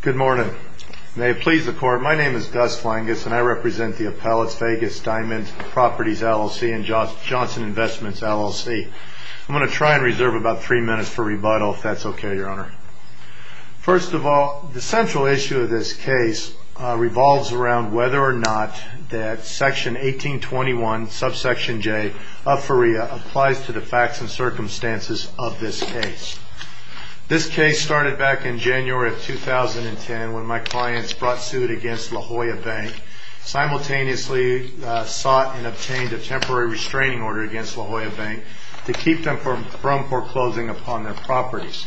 Good morning. May it please the court. My name is Gus Flangus and I represent the Appellate's Vegas Diamond Properties, LLC and Johnson Investments, LLC. I'm going to try and reserve about three minutes for rebuttal, if that's OK, Your Honor. First of all, the central issue of this case revolves around whether or not that Section 1821, subsection J of FERIA applies to the facts and circumstances of this case. This case started back in January of 2010 when my clients brought suit against La Jolla Bank, simultaneously sought and obtained a temporary restraining order against La Jolla Bank to keep them from foreclosing upon their properties.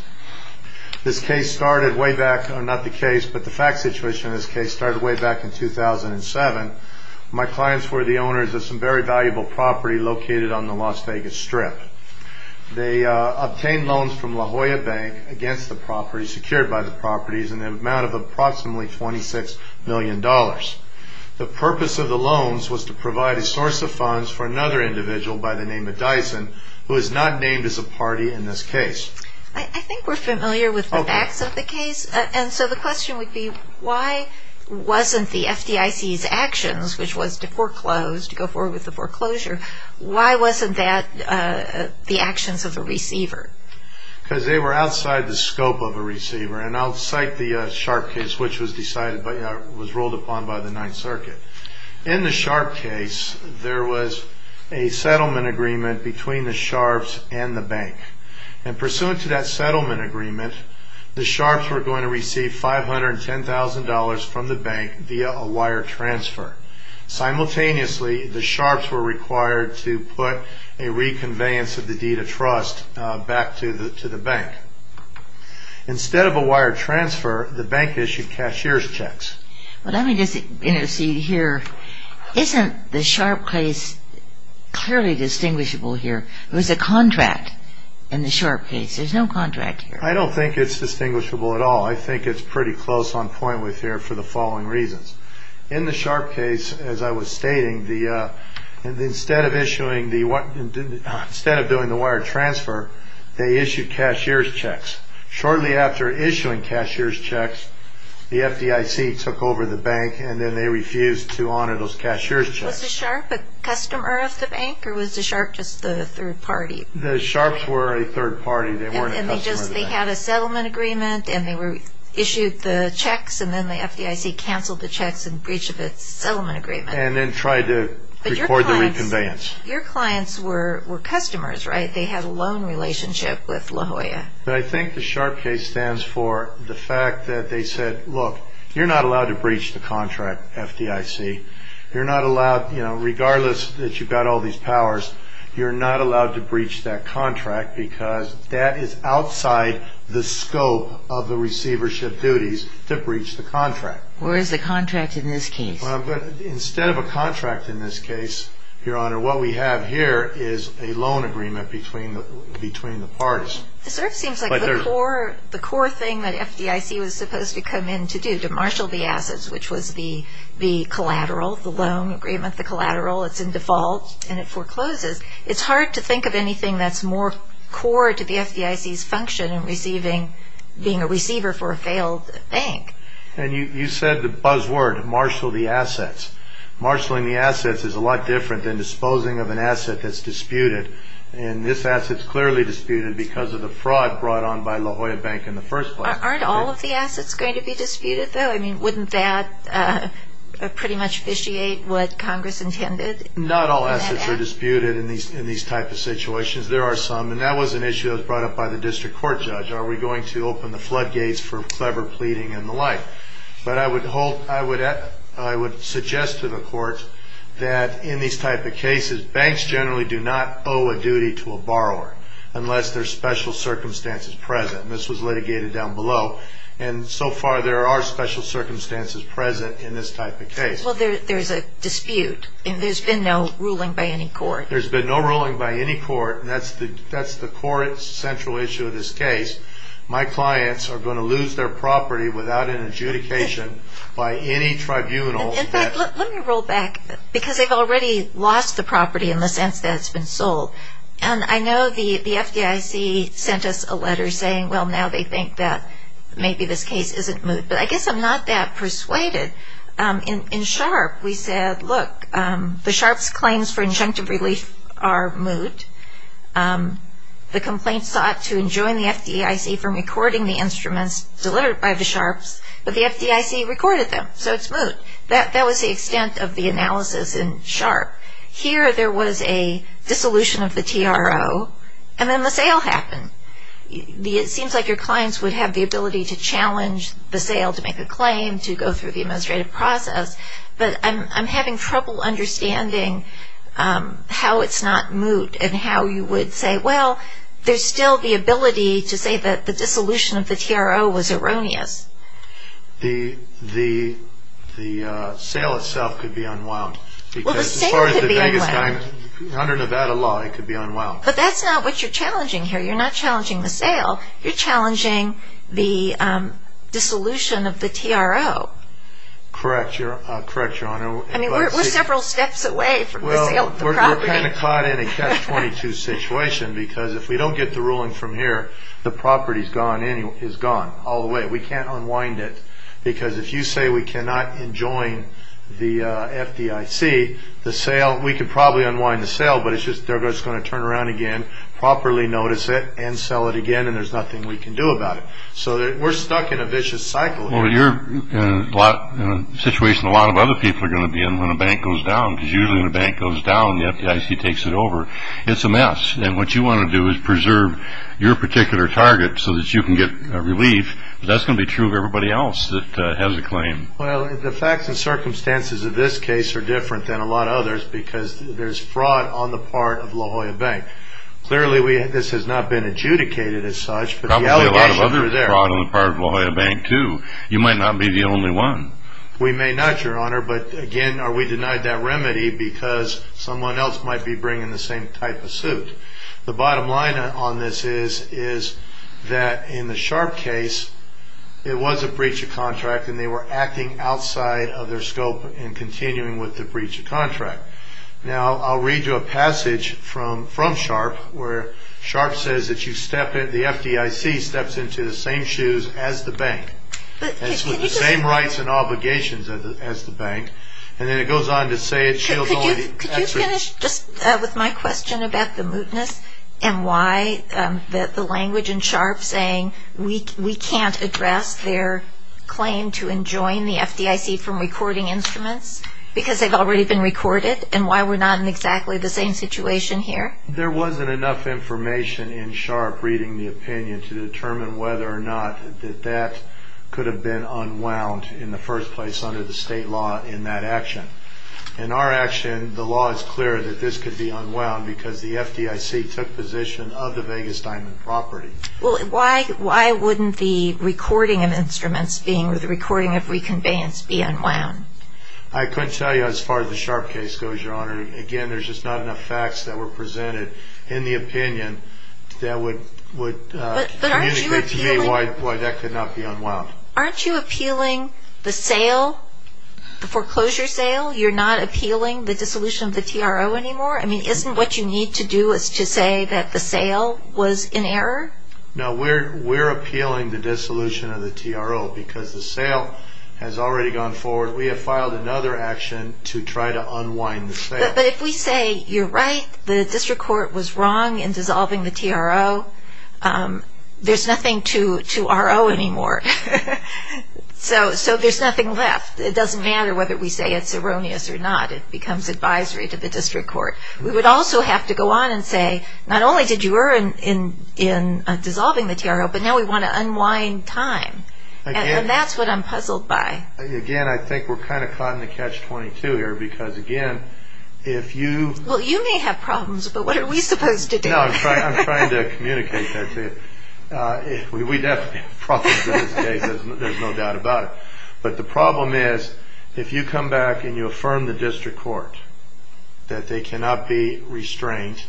This case started way back, not the case, but the fact situation of this case started way back in 2007. My clients were the owners of some very valuable property located on the Las Vegas Strip. They obtained loans from La Jolla Bank against the property secured by the properties in the amount of approximately $26 million. The purpose of the loans was to provide a source of funds for another individual by the name of Dyson, who is not named as a party in this case. I think we're familiar with the facts of the case, and so the question would be, why wasn't the FDIC's actions, which was to foreclose, to go forward with the foreclosure, why wasn't that the actions of the receiver? Because they were outside the scope of a receiver, and I'll cite the Sharp case, which was decided, was ruled upon by the Ninth Circuit. In the Sharp case, there was a settlement agreement between the Sharps and the bank, and pursuant to that settlement agreement, the Sharps were going to receive $510,000 from the bank via a wire transfer. Simultaneously, the Sharps were required to put a reconveyance of the deed of trust back to the bank. Instead of a wire transfer, the bank issued cashier's checks. Well, let me just, you know, see here, isn't the Sharp case clearly distinguishable here? There was a contract in the Sharp case. There's no contract here. I don't think it's distinguishable at all. I think it's pretty close on point with here for the following reasons. In the Sharp case, as I was stating, instead of doing the wire transfer, they issued cashier's checks. Shortly after issuing cashier's checks, the FDIC took over the bank, and then they refused to honor those cashier's checks. Was the Sharp a customer of the bank, or was the Sharp just the third party? The Sharps were a third party. They weren't a customer of the bank. And they just, they had a settlement agreement, and they issued the checks, and then the FDIC canceled the checks in breach of its settlement agreement. And then tried to record the reconveyance. But your clients were customers, right? They had a loan relationship with La Jolla. But I think the Sharp case stands for the fact that they said, look, you're not allowed to breach the contract, FDIC. You're not allowed, you know, regardless that you've got all these powers, you're not allowed to breach that contract, because that is outside the scope of the receivership duties to breach the contract. Where is the contract in this case? Instead of a contract in this case, Your Honor, what we have here is a loan agreement between the parties. It sort of seems like the core thing that FDIC was supposed to come in to do, to marshal the assets, which was the collateral, the loan agreement, the collateral. It's in default, and it forecloses. It's hard to think of anything that's more core to the FDIC's function in receiving, being a receiver for a failed bank. And you said the buzz word, marshal the assets. Marshaling the assets is a lot different than disposing of an asset that's disputed. And this asset's clearly disputed because of the fraud brought on by La Jolla Bank in the first place. Aren't all of the assets going to be disputed, though? I mean, wouldn't that pretty much officiate what Congress intended? Not all assets are disputed in these type of situations. There are some, and that was an issue that was brought up by the district court judge. Are we going to open the floodgates for clever pleading and the like? But I would hold, I would suggest to the courts that in these type of cases, banks generally do not owe a duty to a borrower unless there's special circumstances present. And this was litigated down below. And so far there are special circumstances present in this type of case. Well, there's a dispute, and there's been no ruling by any court. There's been no ruling by any court, and that's the core central issue of this case. My clients are going to lose their property without an adjudication by any tribunal. In fact, let me roll back, because they've already lost the property in the sense that it's been sold. And I know the FDIC sent us a letter saying, well, now they think that maybe this case isn't moot. But I guess I'm not that persuaded. In Sharp, we said, look, the Sharp's claims for injunctive relief are moot. The complaint sought to enjoin the FDIC from recording the instruments delivered by the Sharps, but the FDIC recorded them, so it's moot. That was the extent of the analysis in Sharp. Here there was a dissolution of the TRO, and then the sale happened. It seems like your clients would have the ability to challenge the sale to make a claim, to go through the administrative process. But I'm having trouble understanding how it's not moot and how you would say, well, there's still the ability to say that the dissolution of the TRO was erroneous. The sale itself could be unwound. Well, the sale could be unwound. Under Nevada law, it could be unwound. But that's not what you're challenging here. You're not challenging the sale. You're challenging the dissolution of the TRO. Correct, Your Honor. I mean, we're several steps away from the sale of the property. Well, we're kind of caught in a catch-22 situation, because if we don't get the ruling from here, the property is gone all the way. We can't unwind it, because if you say we cannot enjoin the FDIC, we could probably unwind the sale, but it's just going to turn around again, properly notice it, and sell it again, and there's nothing we can do about it. So we're stuck in a vicious cycle here. Well, you're in a situation a lot of other people are going to be in when a bank goes down, because usually when a bank goes down, the FDIC takes it over. It's a mess, and what you want to do is preserve your particular target so that you can get relief, but that's going to be true of everybody else that has a claim. Well, the facts and circumstances of this case are different than a lot of others, because there's fraud on the part of La Jolla Bank. Clearly, this has not been adjudicated as such, but the allegations are there. There's fraud on the part of La Jolla Bank, too. You might not be the only one. We may not, Your Honor, but again, we denied that remedy because someone else might be bringing the same type of suit. The bottom line on this is that in the Sharp case, it was a breach of contract, and they were acting outside of their scope in continuing with the breach of contract. Now, I'll read you a passage from Sharp where Sharp says that the FDIC steps into the same shoes as the bank, and it's with the same rights and obligations as the bank, and then it goes on to say it shields only the FDIC. Could you finish just with my question about the mootness and why the language in Sharp saying we can't address their claim to enjoin the FDIC from recording instruments because they've already been recorded and why we're not in exactly the same situation here? There wasn't enough information in Sharp reading the opinion to determine whether or not that that could have been unwound in the first place under the state law in that action. In our action, the law is clear that this could be unwound because the FDIC took position of the Vegas Diamond property. Well, why wouldn't the recording of instruments being with the recording of reconveyance be unwound? I couldn't tell you as far as the Sharp case goes, Your Honor. Again, there's just not enough facts that were presented in the opinion that would communicate to me why that could not be unwound. Aren't you appealing the sale, the foreclosure sale? You're not appealing the dissolution of the TRO anymore? I mean, isn't what you need to do is to say that the sale was in error? No, we're appealing the dissolution of the TRO because the sale has already gone forward. We have filed another action to try to unwind the sale. But if we say, you're right, the district court was wrong in dissolving the TRO, there's nothing to RO anymore. So there's nothing left. It doesn't matter whether we say it's erroneous or not. It becomes advisory to the district court. We would also have to go on and say, not only did you err in dissolving the TRO, but now we want to unwind time, and that's what I'm puzzled by. Again, I think we're kind of caught in the catch-22 here because, again, if you... Well, you may have problems, but what are we supposed to do? No, I'm trying to communicate that to you. We definitely have problems in this case. There's no doubt about it. But the problem is, if you come back and you affirm the district court that they cannot be restrained,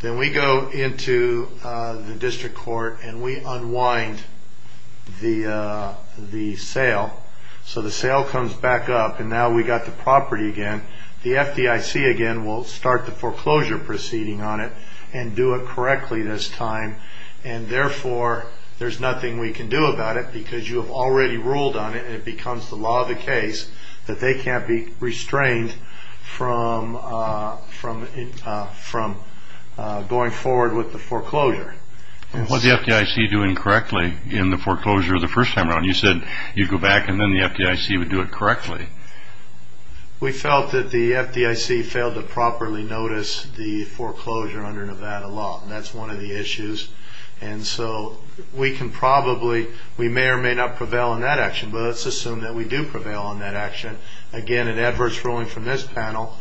then we go into the district court and we unwind the sale. So the sale comes back up, and now we've got the property again. The FDIC again will start the foreclosure proceeding on it and do it correctly this time, and therefore there's nothing we can do about it because you have already ruled on it and it becomes the law of the case that they can't be restrained from going forward with the foreclosure. What's the FDIC doing correctly in the foreclosure of the first time around? You said you'd go back and then the FDIC would do it correctly. We felt that the FDIC failed to properly notice the foreclosure under Nevada law, and that's one of the issues. We may or may not prevail in that action, but let's assume that we do prevail in that action. Again, an adverse ruling from this panel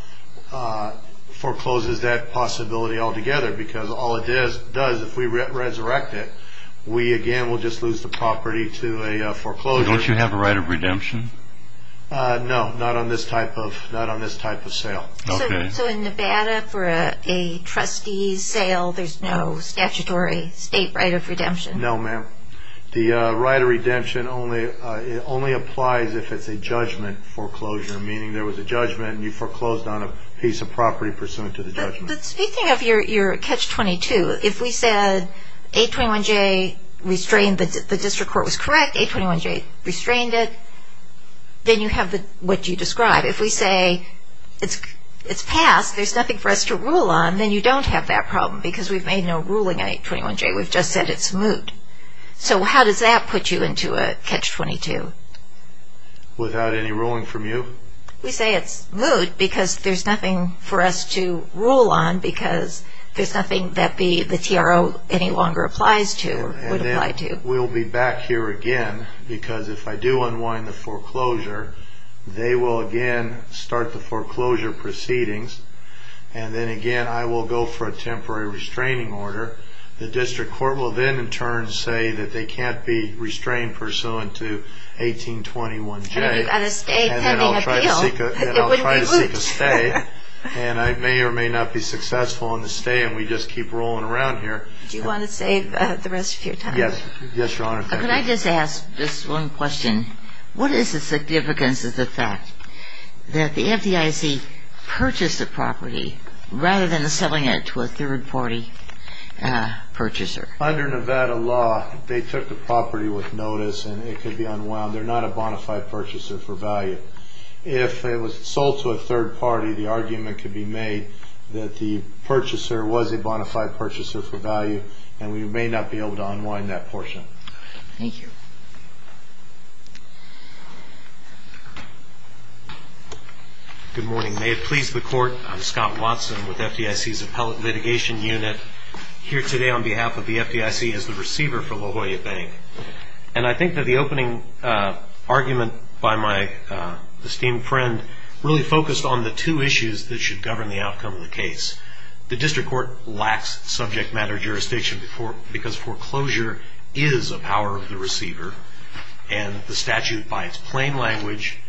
forecloses that possibility altogether because all it does, if we resurrect it, we again will just lose the property to a foreclosure. Don't you have a right of redemption? No, not on this type of sale. So in Nevada for a trustee's sale, there's no statutory state right of redemption? No, ma'am. The right of redemption only applies if it's a judgment foreclosure, meaning there was a judgment and you foreclosed on a piece of property pursuant to the judgment. Speaking of your catch-22, if we said 821J restrained, the district court was correct, 821J restrained it, then you have what you describe. If we say it's passed, there's nothing for us to rule on, then you don't have that problem because we've made no ruling on 821J. We've just said it's moot. So how does that put you into a catch-22? Without any ruling from you? We say it's moot because there's nothing for us to rule on because there's nothing that the TRO any longer applies to or would apply to. And then we'll be back here again because if I do unwind the foreclosure, they will again start the foreclosure proceedings, and then again I will go for a temporary restraining order. The district court will then in turn say that they can't be restrained pursuant to 1821J. And then you've got to stay pending appeal. And then I'll try to seek a stay, and I may or may not be successful on the stay, and we just keep rolling around here. Do you want to save the rest of your time? Yes, Your Honor. Could I just ask just one question? What is the significance of the fact that the FDIC purchased the property rather than selling it to a third-party purchaser? Under Nevada law, they took the property with notice and it could be unwound. They're not a bona fide purchaser for value. If it was sold to a third party, the argument could be made that the purchaser was a bona fide purchaser for value, and we may not be able to unwind that portion. Thank you. Good morning. May it please the Court, I'm Scott Watson with FDIC's Appellate Litigation Unit, here today on behalf of the FDIC as the receiver for La Jolla Bank. And I think that the opening argument by my esteemed friend really focused on the two issues that should govern the outcome of the case. The district court lacks subject matter jurisdiction because foreclosure is a power of the receiver, and the statute, by its plain language,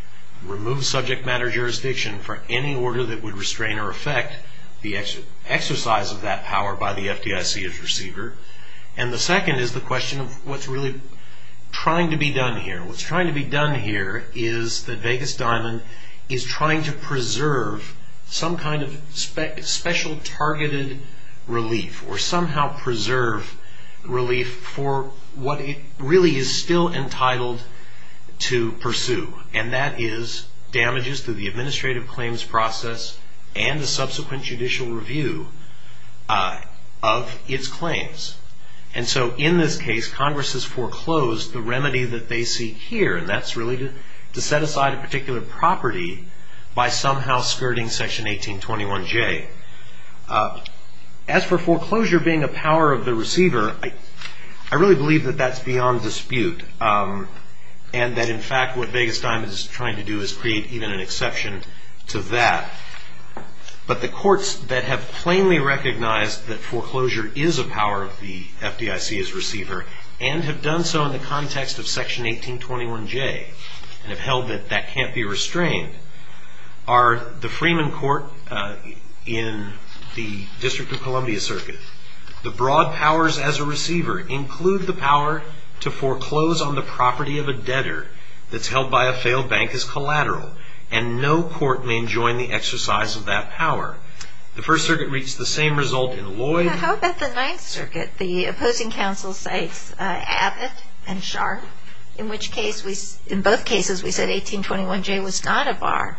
removes subject matter jurisdiction for any order that would restrain or affect the exercise of that power by the FDIC as receiver. And the second is the question of what's really trying to be done here. What's trying to be done here is that Vegas Diamond is trying to preserve some kind of special targeted relief or somehow preserve relief for what it really is still entitled to pursue, and that is damages to the administrative claims process and the subsequent judicial review of its claims. And so in this case, Congress has foreclosed the remedy that they seek here, and that's really to set aside a particular property by somehow skirting Section 1821J. As for foreclosure being a power of the receiver, I really believe that that's beyond dispute and that, in fact, what Vegas Diamond is trying to do is create even an exception to that. But the courts that have plainly recognized that foreclosure is a power of the FDIC as receiver and have done so in the context of Section 1821J and have held that that can't be restrained are the Freeman Court in the District of Columbia Circuit. The broad powers as a receiver include the power to foreclose on the property of a debtor that's held by a failed bank as collateral, and no court may enjoin the exercise of that power. How about the Ninth Circuit? The opposing counsel cites Abbott and Sharp, in which case, in both cases, we said 1821J was not a bar.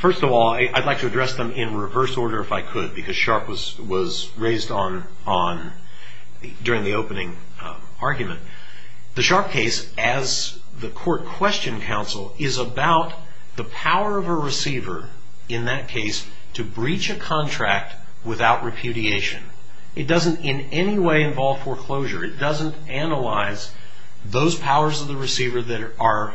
First of all, I'd like to address them in reverse order if I could, because Sharp was raised during the opening argument. The Sharp case, as the court questioned counsel, is about the power of a receiver in that case to breach a contract without repudiation. It doesn't in any way involve foreclosure. It doesn't analyze those powers of the receiver that are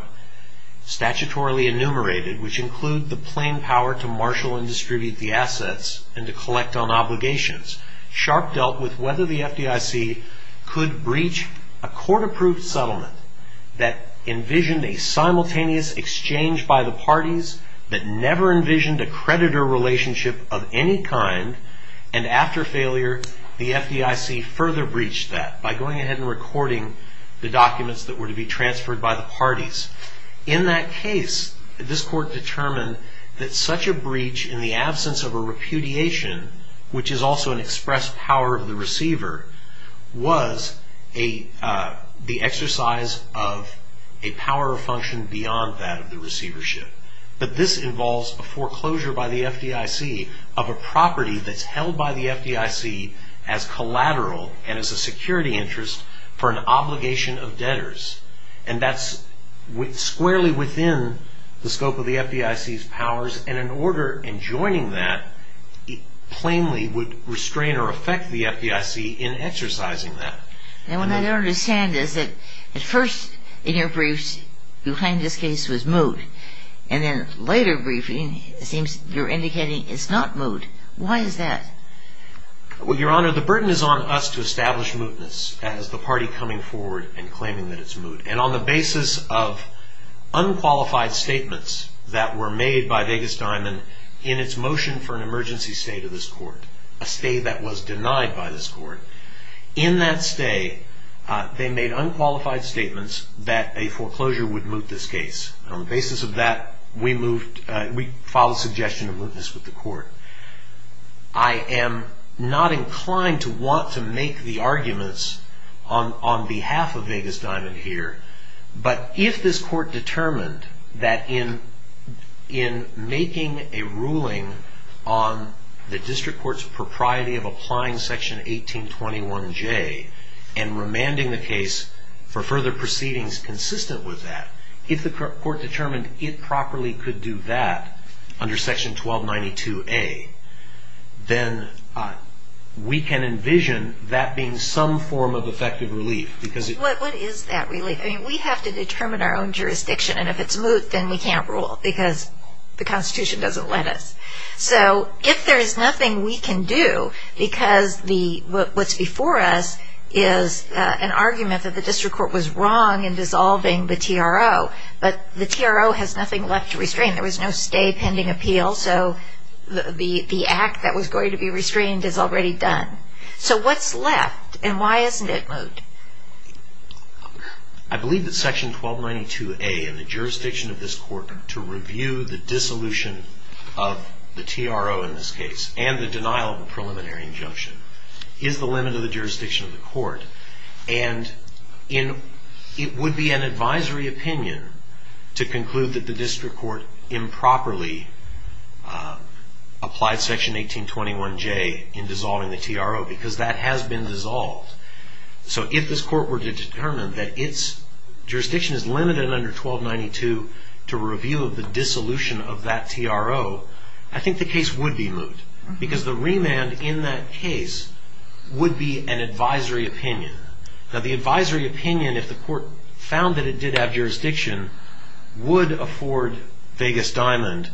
statutorily enumerated, which include the plain power to marshal and distribute the assets and to collect on obligations. Sharp dealt with whether the FDIC could breach a court-approved settlement that envisioned a simultaneous exchange by the parties, that never envisioned a creditor relationship of any kind, and after failure, the FDIC further breached that by going ahead and recording the documents that were to be transferred by the parties. In that case, this court determined that such a breach in the absence of a repudiation, which is also an expressed power of the receiver, was the exercise of a power or function beyond that of the receivership. But this involves a foreclosure by the FDIC of a property that's held by the FDIC as collateral and as a security interest for an obligation of debtors. And that's squarely within the scope of the FDIC's powers. And an order enjoining that plainly would restrain or affect the FDIC in exercising that. And what I don't understand is that at first in your briefs you claimed this case was moot, and then later briefing it seems you're indicating it's not moot. Why is that? Well, Your Honor, the burden is on us to establish mootness as the party coming forward and claiming that it's moot. And on the basis of unqualified statements that were made by Vegas Diamond in its motion for an emergency stay to this court, a stay that was denied by this court, in that stay they made unqualified statements that a foreclosure would moot this case. On the basis of that, we filed a suggestion of mootness with the court. I am not inclined to want to make the arguments on behalf of Vegas Diamond here, but if this court determined that in making a ruling on the district court's propriety of applying Section 1821J and remanding the case for further proceedings consistent with that, if the court determined it properly could do that under Section 1292A, then we can envision that being some form of effective relief. What is that relief? We have to determine our own jurisdiction, and if it's moot then we can't rule because the Constitution doesn't let us. So if there's nothing we can do because what's before us is an argument that the district court was wrong in dissolving the TRO, but the TRO has nothing left to restrain. There was no stay pending appeal, so the act that was going to be restrained is already done. So what's left, and why isn't it moot? I believe that Section 1292A in the jurisdiction of this court to review the dissolution of the TRO in this case and the denial of a preliminary injunction is the limit of the jurisdiction of the court, and it would be an advisory opinion to conclude that the district court improperly applied Section 1821J in dissolving the TRO because that has been dissolved. So if this court were to determine that its jurisdiction is limited under 1292 to review the dissolution of that TRO, I think the case would be moot because the remand in that case would be an advisory opinion. Now the advisory opinion, if the court found that it did have jurisdiction, would afford Vegas Diamond,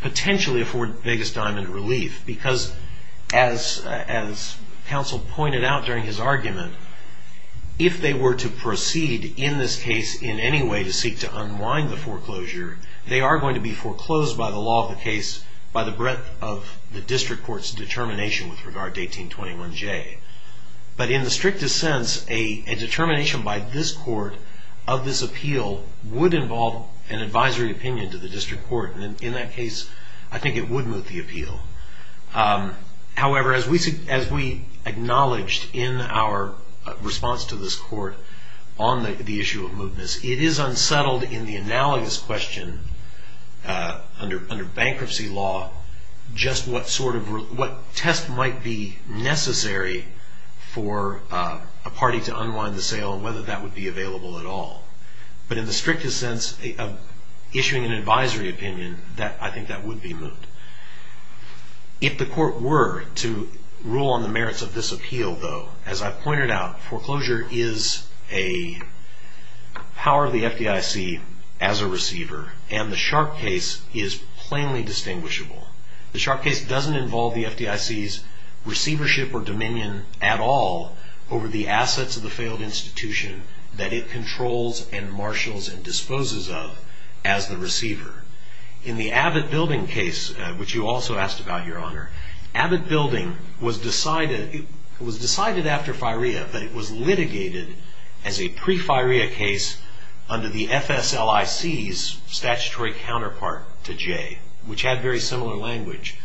potentially afford Vegas Diamond relief because as counsel pointed out during his argument, if they were to proceed in this case in any way to seek to unwind the foreclosure, they are going to be foreclosed by the law of the case by the breadth of the district court's determination with regard to 1821J. But in the strictest sense, a determination by this court of this appeal would involve an advisory opinion to the district court, and in that case, I think it would moot the appeal. However, as we acknowledged in our response to this court on the issue of mootness, it is unsettled in the analogous question under bankruptcy law just what test might be necessary for a party to unwind the sale and whether that would be available at all. But in the strictest sense of issuing an advisory opinion, I think that would be moot. If the court were to rule on the merits of this appeal, though, as I pointed out, foreclosure is a power of the FDIC as a receiver, and the Sharpe case is plainly distinguishable. The Sharpe case doesn't involve the FDIC's receivership or dominion at all over the assets of the failed institution that it controls and marshals and disposes of as the receiver. In the Abbott Building case, which you also asked about, Your Honor, Abbott Building was decided after FIREA that it was litigated as a pre-FIREA case under the FSLIC's statutory counterpart to Jay, which had very similar language.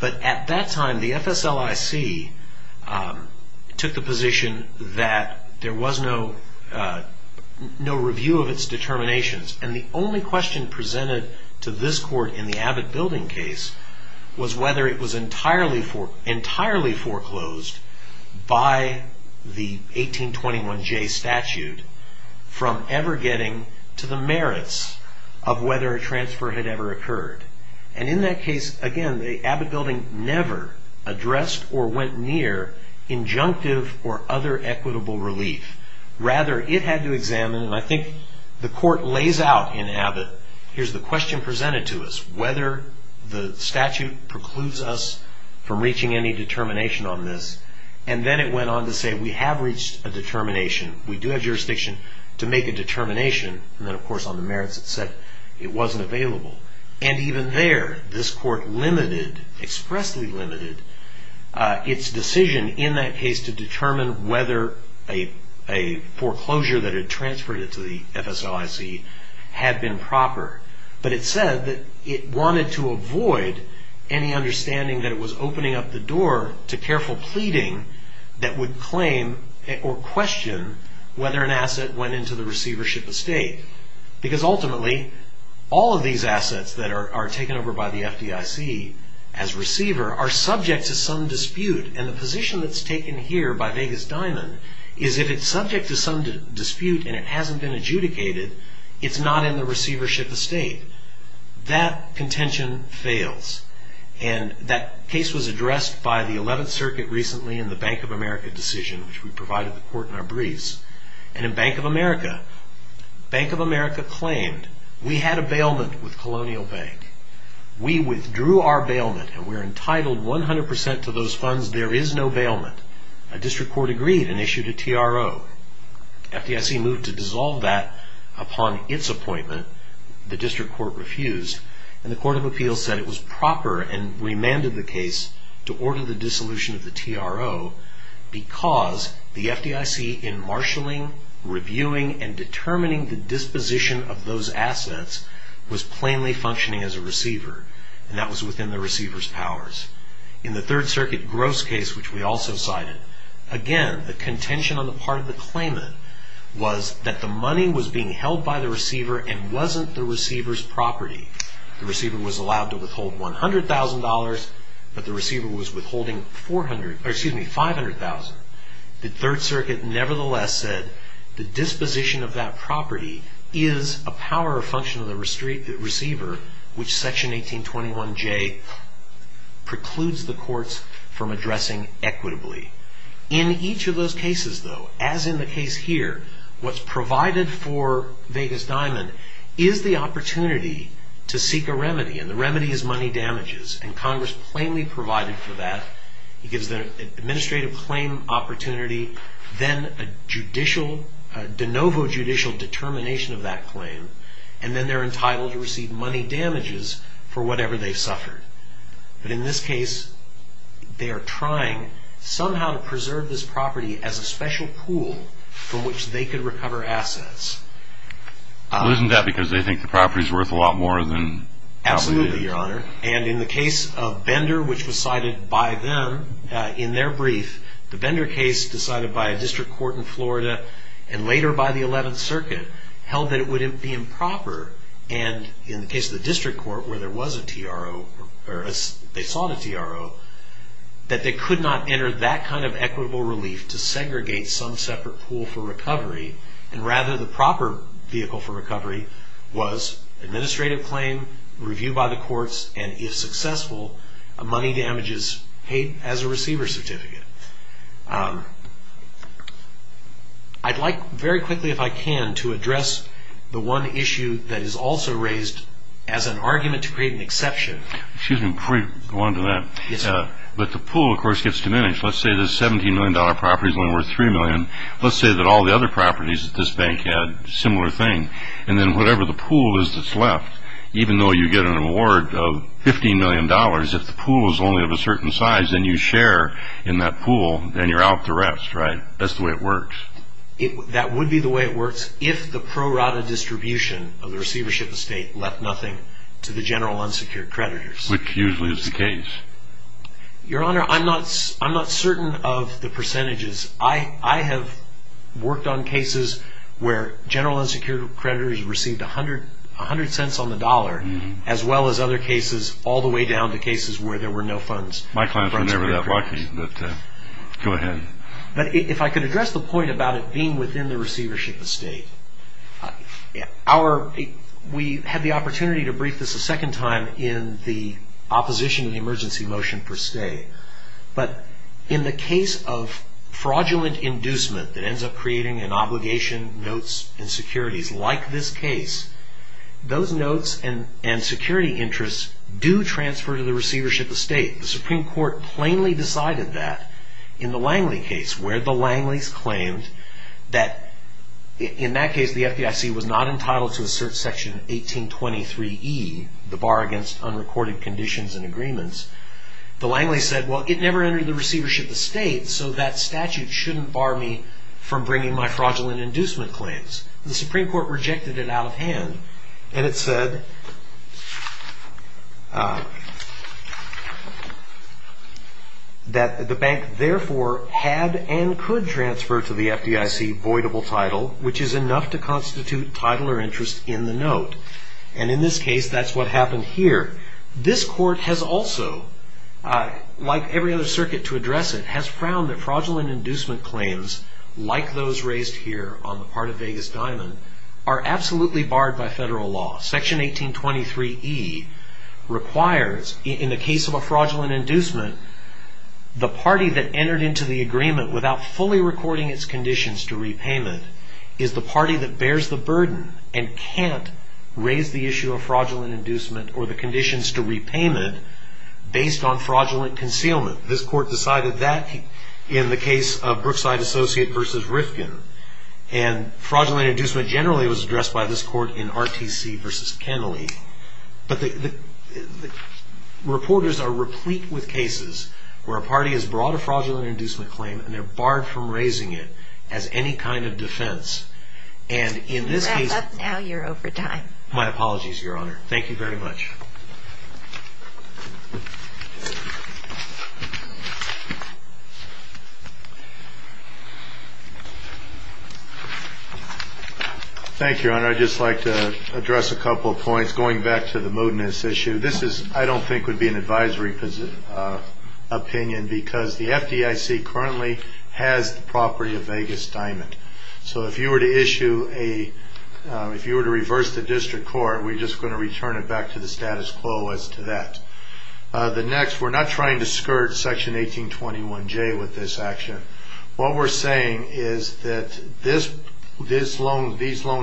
But at that time, the FSLIC took the position that there was no review of its determinations, and the only question presented to this court in the Abbott Building case was whether it was entirely foreclosed by the 1821J statute from ever getting to the merits of whether a transfer had ever occurred. And in that case, again, Abbott Building never addressed or went near injunctive or other equitable relief. Rather, it had to examine, and I think the court lays out in Abbott, here's the question presented to us, whether the statute precludes us from reaching any determination on this. And then it went on to say, we have reached a determination. We do have jurisdiction to make a determination. And then, of course, on the merits, it said it wasn't available. And even there, this court limited, expressly limited, its decision in that case to determine whether a foreclosure that had transferred it to the FSLIC had been proper. But it said that it wanted to avoid any understanding that it was opening up the door to careful pleading that would claim or question whether an asset went into the receivership estate. Because ultimately, all of these assets that are taken over by the FDIC as receiver are subject to some dispute. And the position that's taken here by Vegas Diamond is if it's subject to some dispute and it hasn't been adjudicated, it's not in the receivership estate. That contention fails. And that case was addressed by the 11th Circuit recently in the Bank of America decision, which we provided the court in our briefs. And in Bank of America, Bank of America claimed, we had a bailment with Colonial Bank. We withdrew our bailment and we're entitled 100% to those funds. There is no bailment. A district court agreed and issued a TRO. FDIC moved to dissolve that upon its appointment. The district court refused. And the Court of Appeals said it was proper and remanded the case to order the dissolution of the TRO because the FDIC in marshalling, reviewing, and determining the disposition of those assets was plainly functioning as a receiver. And that was within the receiver's powers. In the Third Circuit gross case, which we also cited, again, the contention on the part of the claimant was that the money was being held by the receiver and wasn't the receiver's property. The receiver was allowed to withhold $100,000, but the receiver was withholding $500,000. The Third Circuit, nevertheless, said the disposition of that property is a power or function of the receiver, which Section 1821J precludes the courts from addressing equitably. In each of those cases, though, as in the case here, what's provided for Vegas Diamond is the opportunity to seek a remedy. And the remedy is money damages. And Congress plainly provided for that. It gives them an administrative claim opportunity, then a de novo judicial determination of that claim, and then they're entitled to receive money damages for whatever they've suffered. But in this case, they are trying somehow to preserve this property as a special pool from which they could recover assets. Well, isn't that because they think the property's worth a lot more than... Absolutely, Your Honor. And in the case of Bender, which was cited by them in their brief, the Bender case decided by a district court in Florida, and later by the Eleventh Circuit, held that it would be improper. And in the case of the district court, where there was a TRO, or they sought a TRO, that they could not enter that kind of equitable relief to segregate some separate pool for recovery. And rather, the proper vehicle for recovery was administrative claim, review by the courts, and if successful, money damages paid as a receiver certificate. I'd like very quickly, if I can, to address the one issue that is also raised as an argument to create an exception. Excuse me, before you go on to that. Yes, sir. But the pool, of course, gets diminished. Let's say this $17 million property is only worth $3 million. Let's say that all the other properties at this bank had a similar thing. And then whatever the pool is that's left, even though you get an award of $15 million, if the pool is only of a certain size and you share in that pool, then you're out the rest, right? That's the way it works. That would be the way it works if the pro rata distribution of the receivership estate left nothing to the general unsecured creditors. Which usually is the case. Your Honor, I'm not certain of the percentages. I have worked on cases where general unsecured creditors received 100 cents on the dollar, as well as other cases all the way down to cases where there were no funds. My clients were never that lucky, but go ahead. But if I could address the point about it being within the receivership estate. We had the opportunity to brief this a second time in the opposition to the emergency motion for stay. But in the case of fraudulent inducement that ends up creating an obligation, notes, and securities like this case, those notes and security interests do transfer to the receivership estate. The Supreme Court plainly decided that in the Langley case, where the Langley's claimed that in that case, the FDIC was not entitled to assert Section 1823E, the bar against unrecorded conditions and agreements. The Langley said, well, it never entered the receivership estate, so that statute shouldn't bar me from bringing my fraudulent inducement claims. The Supreme Court rejected it out of hand. And it said that the bank therefore had and could transfer to the FDIC voidable title, which is enough to constitute title or interest in the note. And in this case, that's what happened here. This court has also, like every other circuit to address it, has found that fraudulent inducement claims, like those raised here on the part of Vegas Diamond, are absolutely barred by federal law. Section 1823E requires, in the case of a fraudulent inducement, the party that entered into the agreement without fully recording its conditions to repayment is the party that bears the burden and can't raise the issue of fraudulent inducement or the conditions to repayment based on fraudulent concealment. This court decided that in the case of Brookside Associate v. Rifkin. And fraudulent inducement generally was addressed by this court in RTC v. Kennelly. But reporters are replete with cases where a party has brought a fraudulent inducement claim and they're barred from raising it as any kind of defense. And in this case. Now you're over time. My apologies, Your Honor. Thank you very much. Thank you, Your Honor. I'd just like to address a couple of points. Going back to the moodiness issue, this is, I don't think, would be an advisory opinion because the FDIC currently has the property of Vegas Diamond. So if you were to issue a, if you were to reverse the district court, we're just going to return it back to the status quo as to that. The next, we're not trying to skirt Section 1821J with this action. What we're saying is that these loan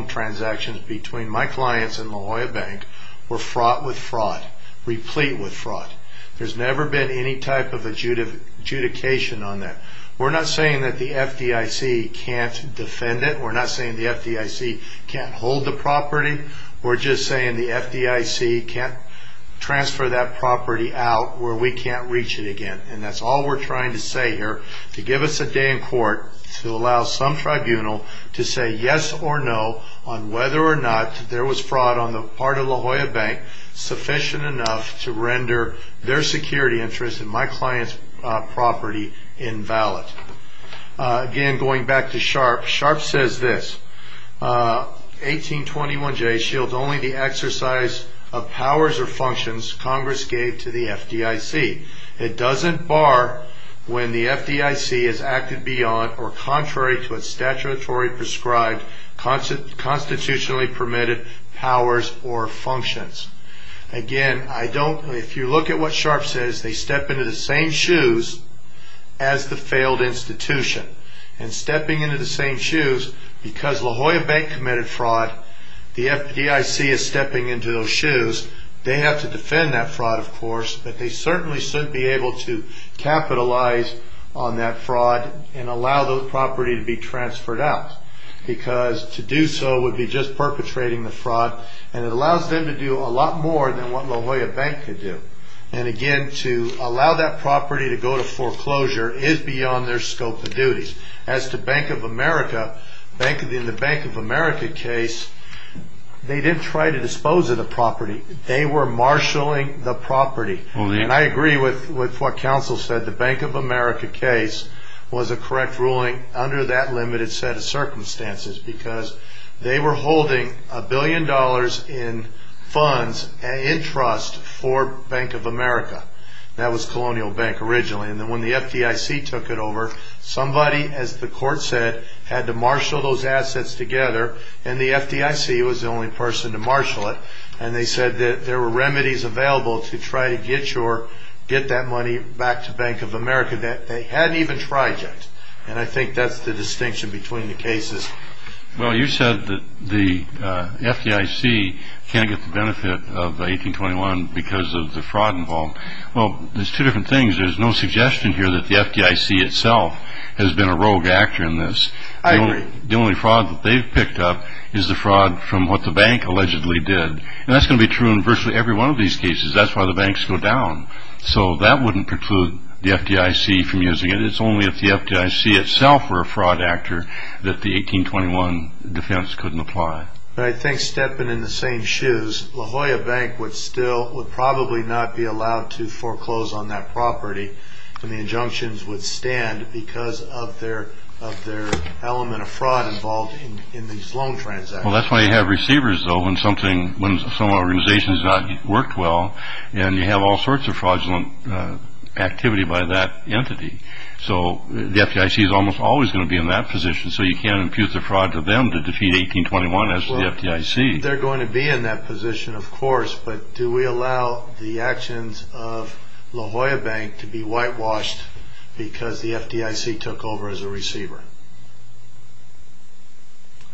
transactions between my clients and La Jolla Bank were fraught with fraud, replete with fraud. There's never been any type of adjudication on that. We're not saying that the FDIC can't defend it. We're not saying the FDIC can't hold the property. We're just saying the FDIC can't transfer that property out where we can't reach it again. And that's all we're trying to say here, to give us a day in court to allow some tribunal to say yes or no on whether or not there was fraud on the part of La Jolla Bank sufficient enough to render their security interest in my client's property invalid. Again, going back to Sharpe, Sharpe says this, 1821J shields only the exercise of powers or functions Congress gave to the FDIC. It doesn't bar when the FDIC has acted beyond or contrary to its statutory prescribed constitutionally permitted powers or functions. Again, if you look at what Sharpe says, they step into the same shoes as the failed institution. And stepping into the same shoes, because La Jolla Bank committed fraud, they have to defend that fraud, of course, but they certainly shouldn't be able to capitalize on that fraud and allow those property to be transferred out. Because to do so would be just perpetrating the fraud, and it allows them to do a lot more than what La Jolla Bank could do. And again, to allow that property to go to foreclosure is beyond their scope of duties. As to Bank of America, in the Bank of America case, they didn't try to dispose of the property. They were marshalling the property. And I agree with what counsel said. The Bank of America case was a correct ruling under that limited set of circumstances because they were holding a billion dollars in funds and interest for Bank of America. That was Colonial Bank originally. And when the FDIC took it over, somebody, as the court said, had to marshal those assets together, and the FDIC was the only person to marshal it. And they said that there were remedies available to try to get that money back to Bank of America. They hadn't even tried yet. And I think that's the distinction between the cases. Well, you said that the FDIC can't get the benefit of 1821 because of the fraud involved. Well, there's two different things. There's no suggestion here that the FDIC itself has been a rogue actor in this. The only fraud that they've picked up is the fraud from what the bank allegedly did. And that's going to be true in virtually every one of these cases. That's why the banks go down. So that wouldn't preclude the FDIC from using it. It's only if the FDIC itself were a fraud actor that the 1821 defense couldn't apply. But I think stepping in the same shoes, La Jolla Bank would probably not be allowed to foreclose on that property when the injunctions would stand because of their element of fraud involved in these loan transactions. Well, that's why you have receivers, though, when some organization has not worked well, and you have all sorts of fraudulent activity by that entity. So the FDIC is almost always going to be in that position, so you can't impute the fraud to them to defeat 1821 as to the FDIC. They're going to be in that position, of course, but do we allow the actions of La Jolla Bank to be whitewashed because the FDIC took over as a receiver?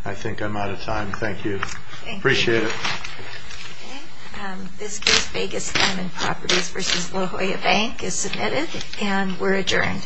I think I'm out of time. Thank you. Thank you. Appreciate it. Okay. This case, Vegas M and Properties v. La Jolla Bank, is submitted and we're adjourned.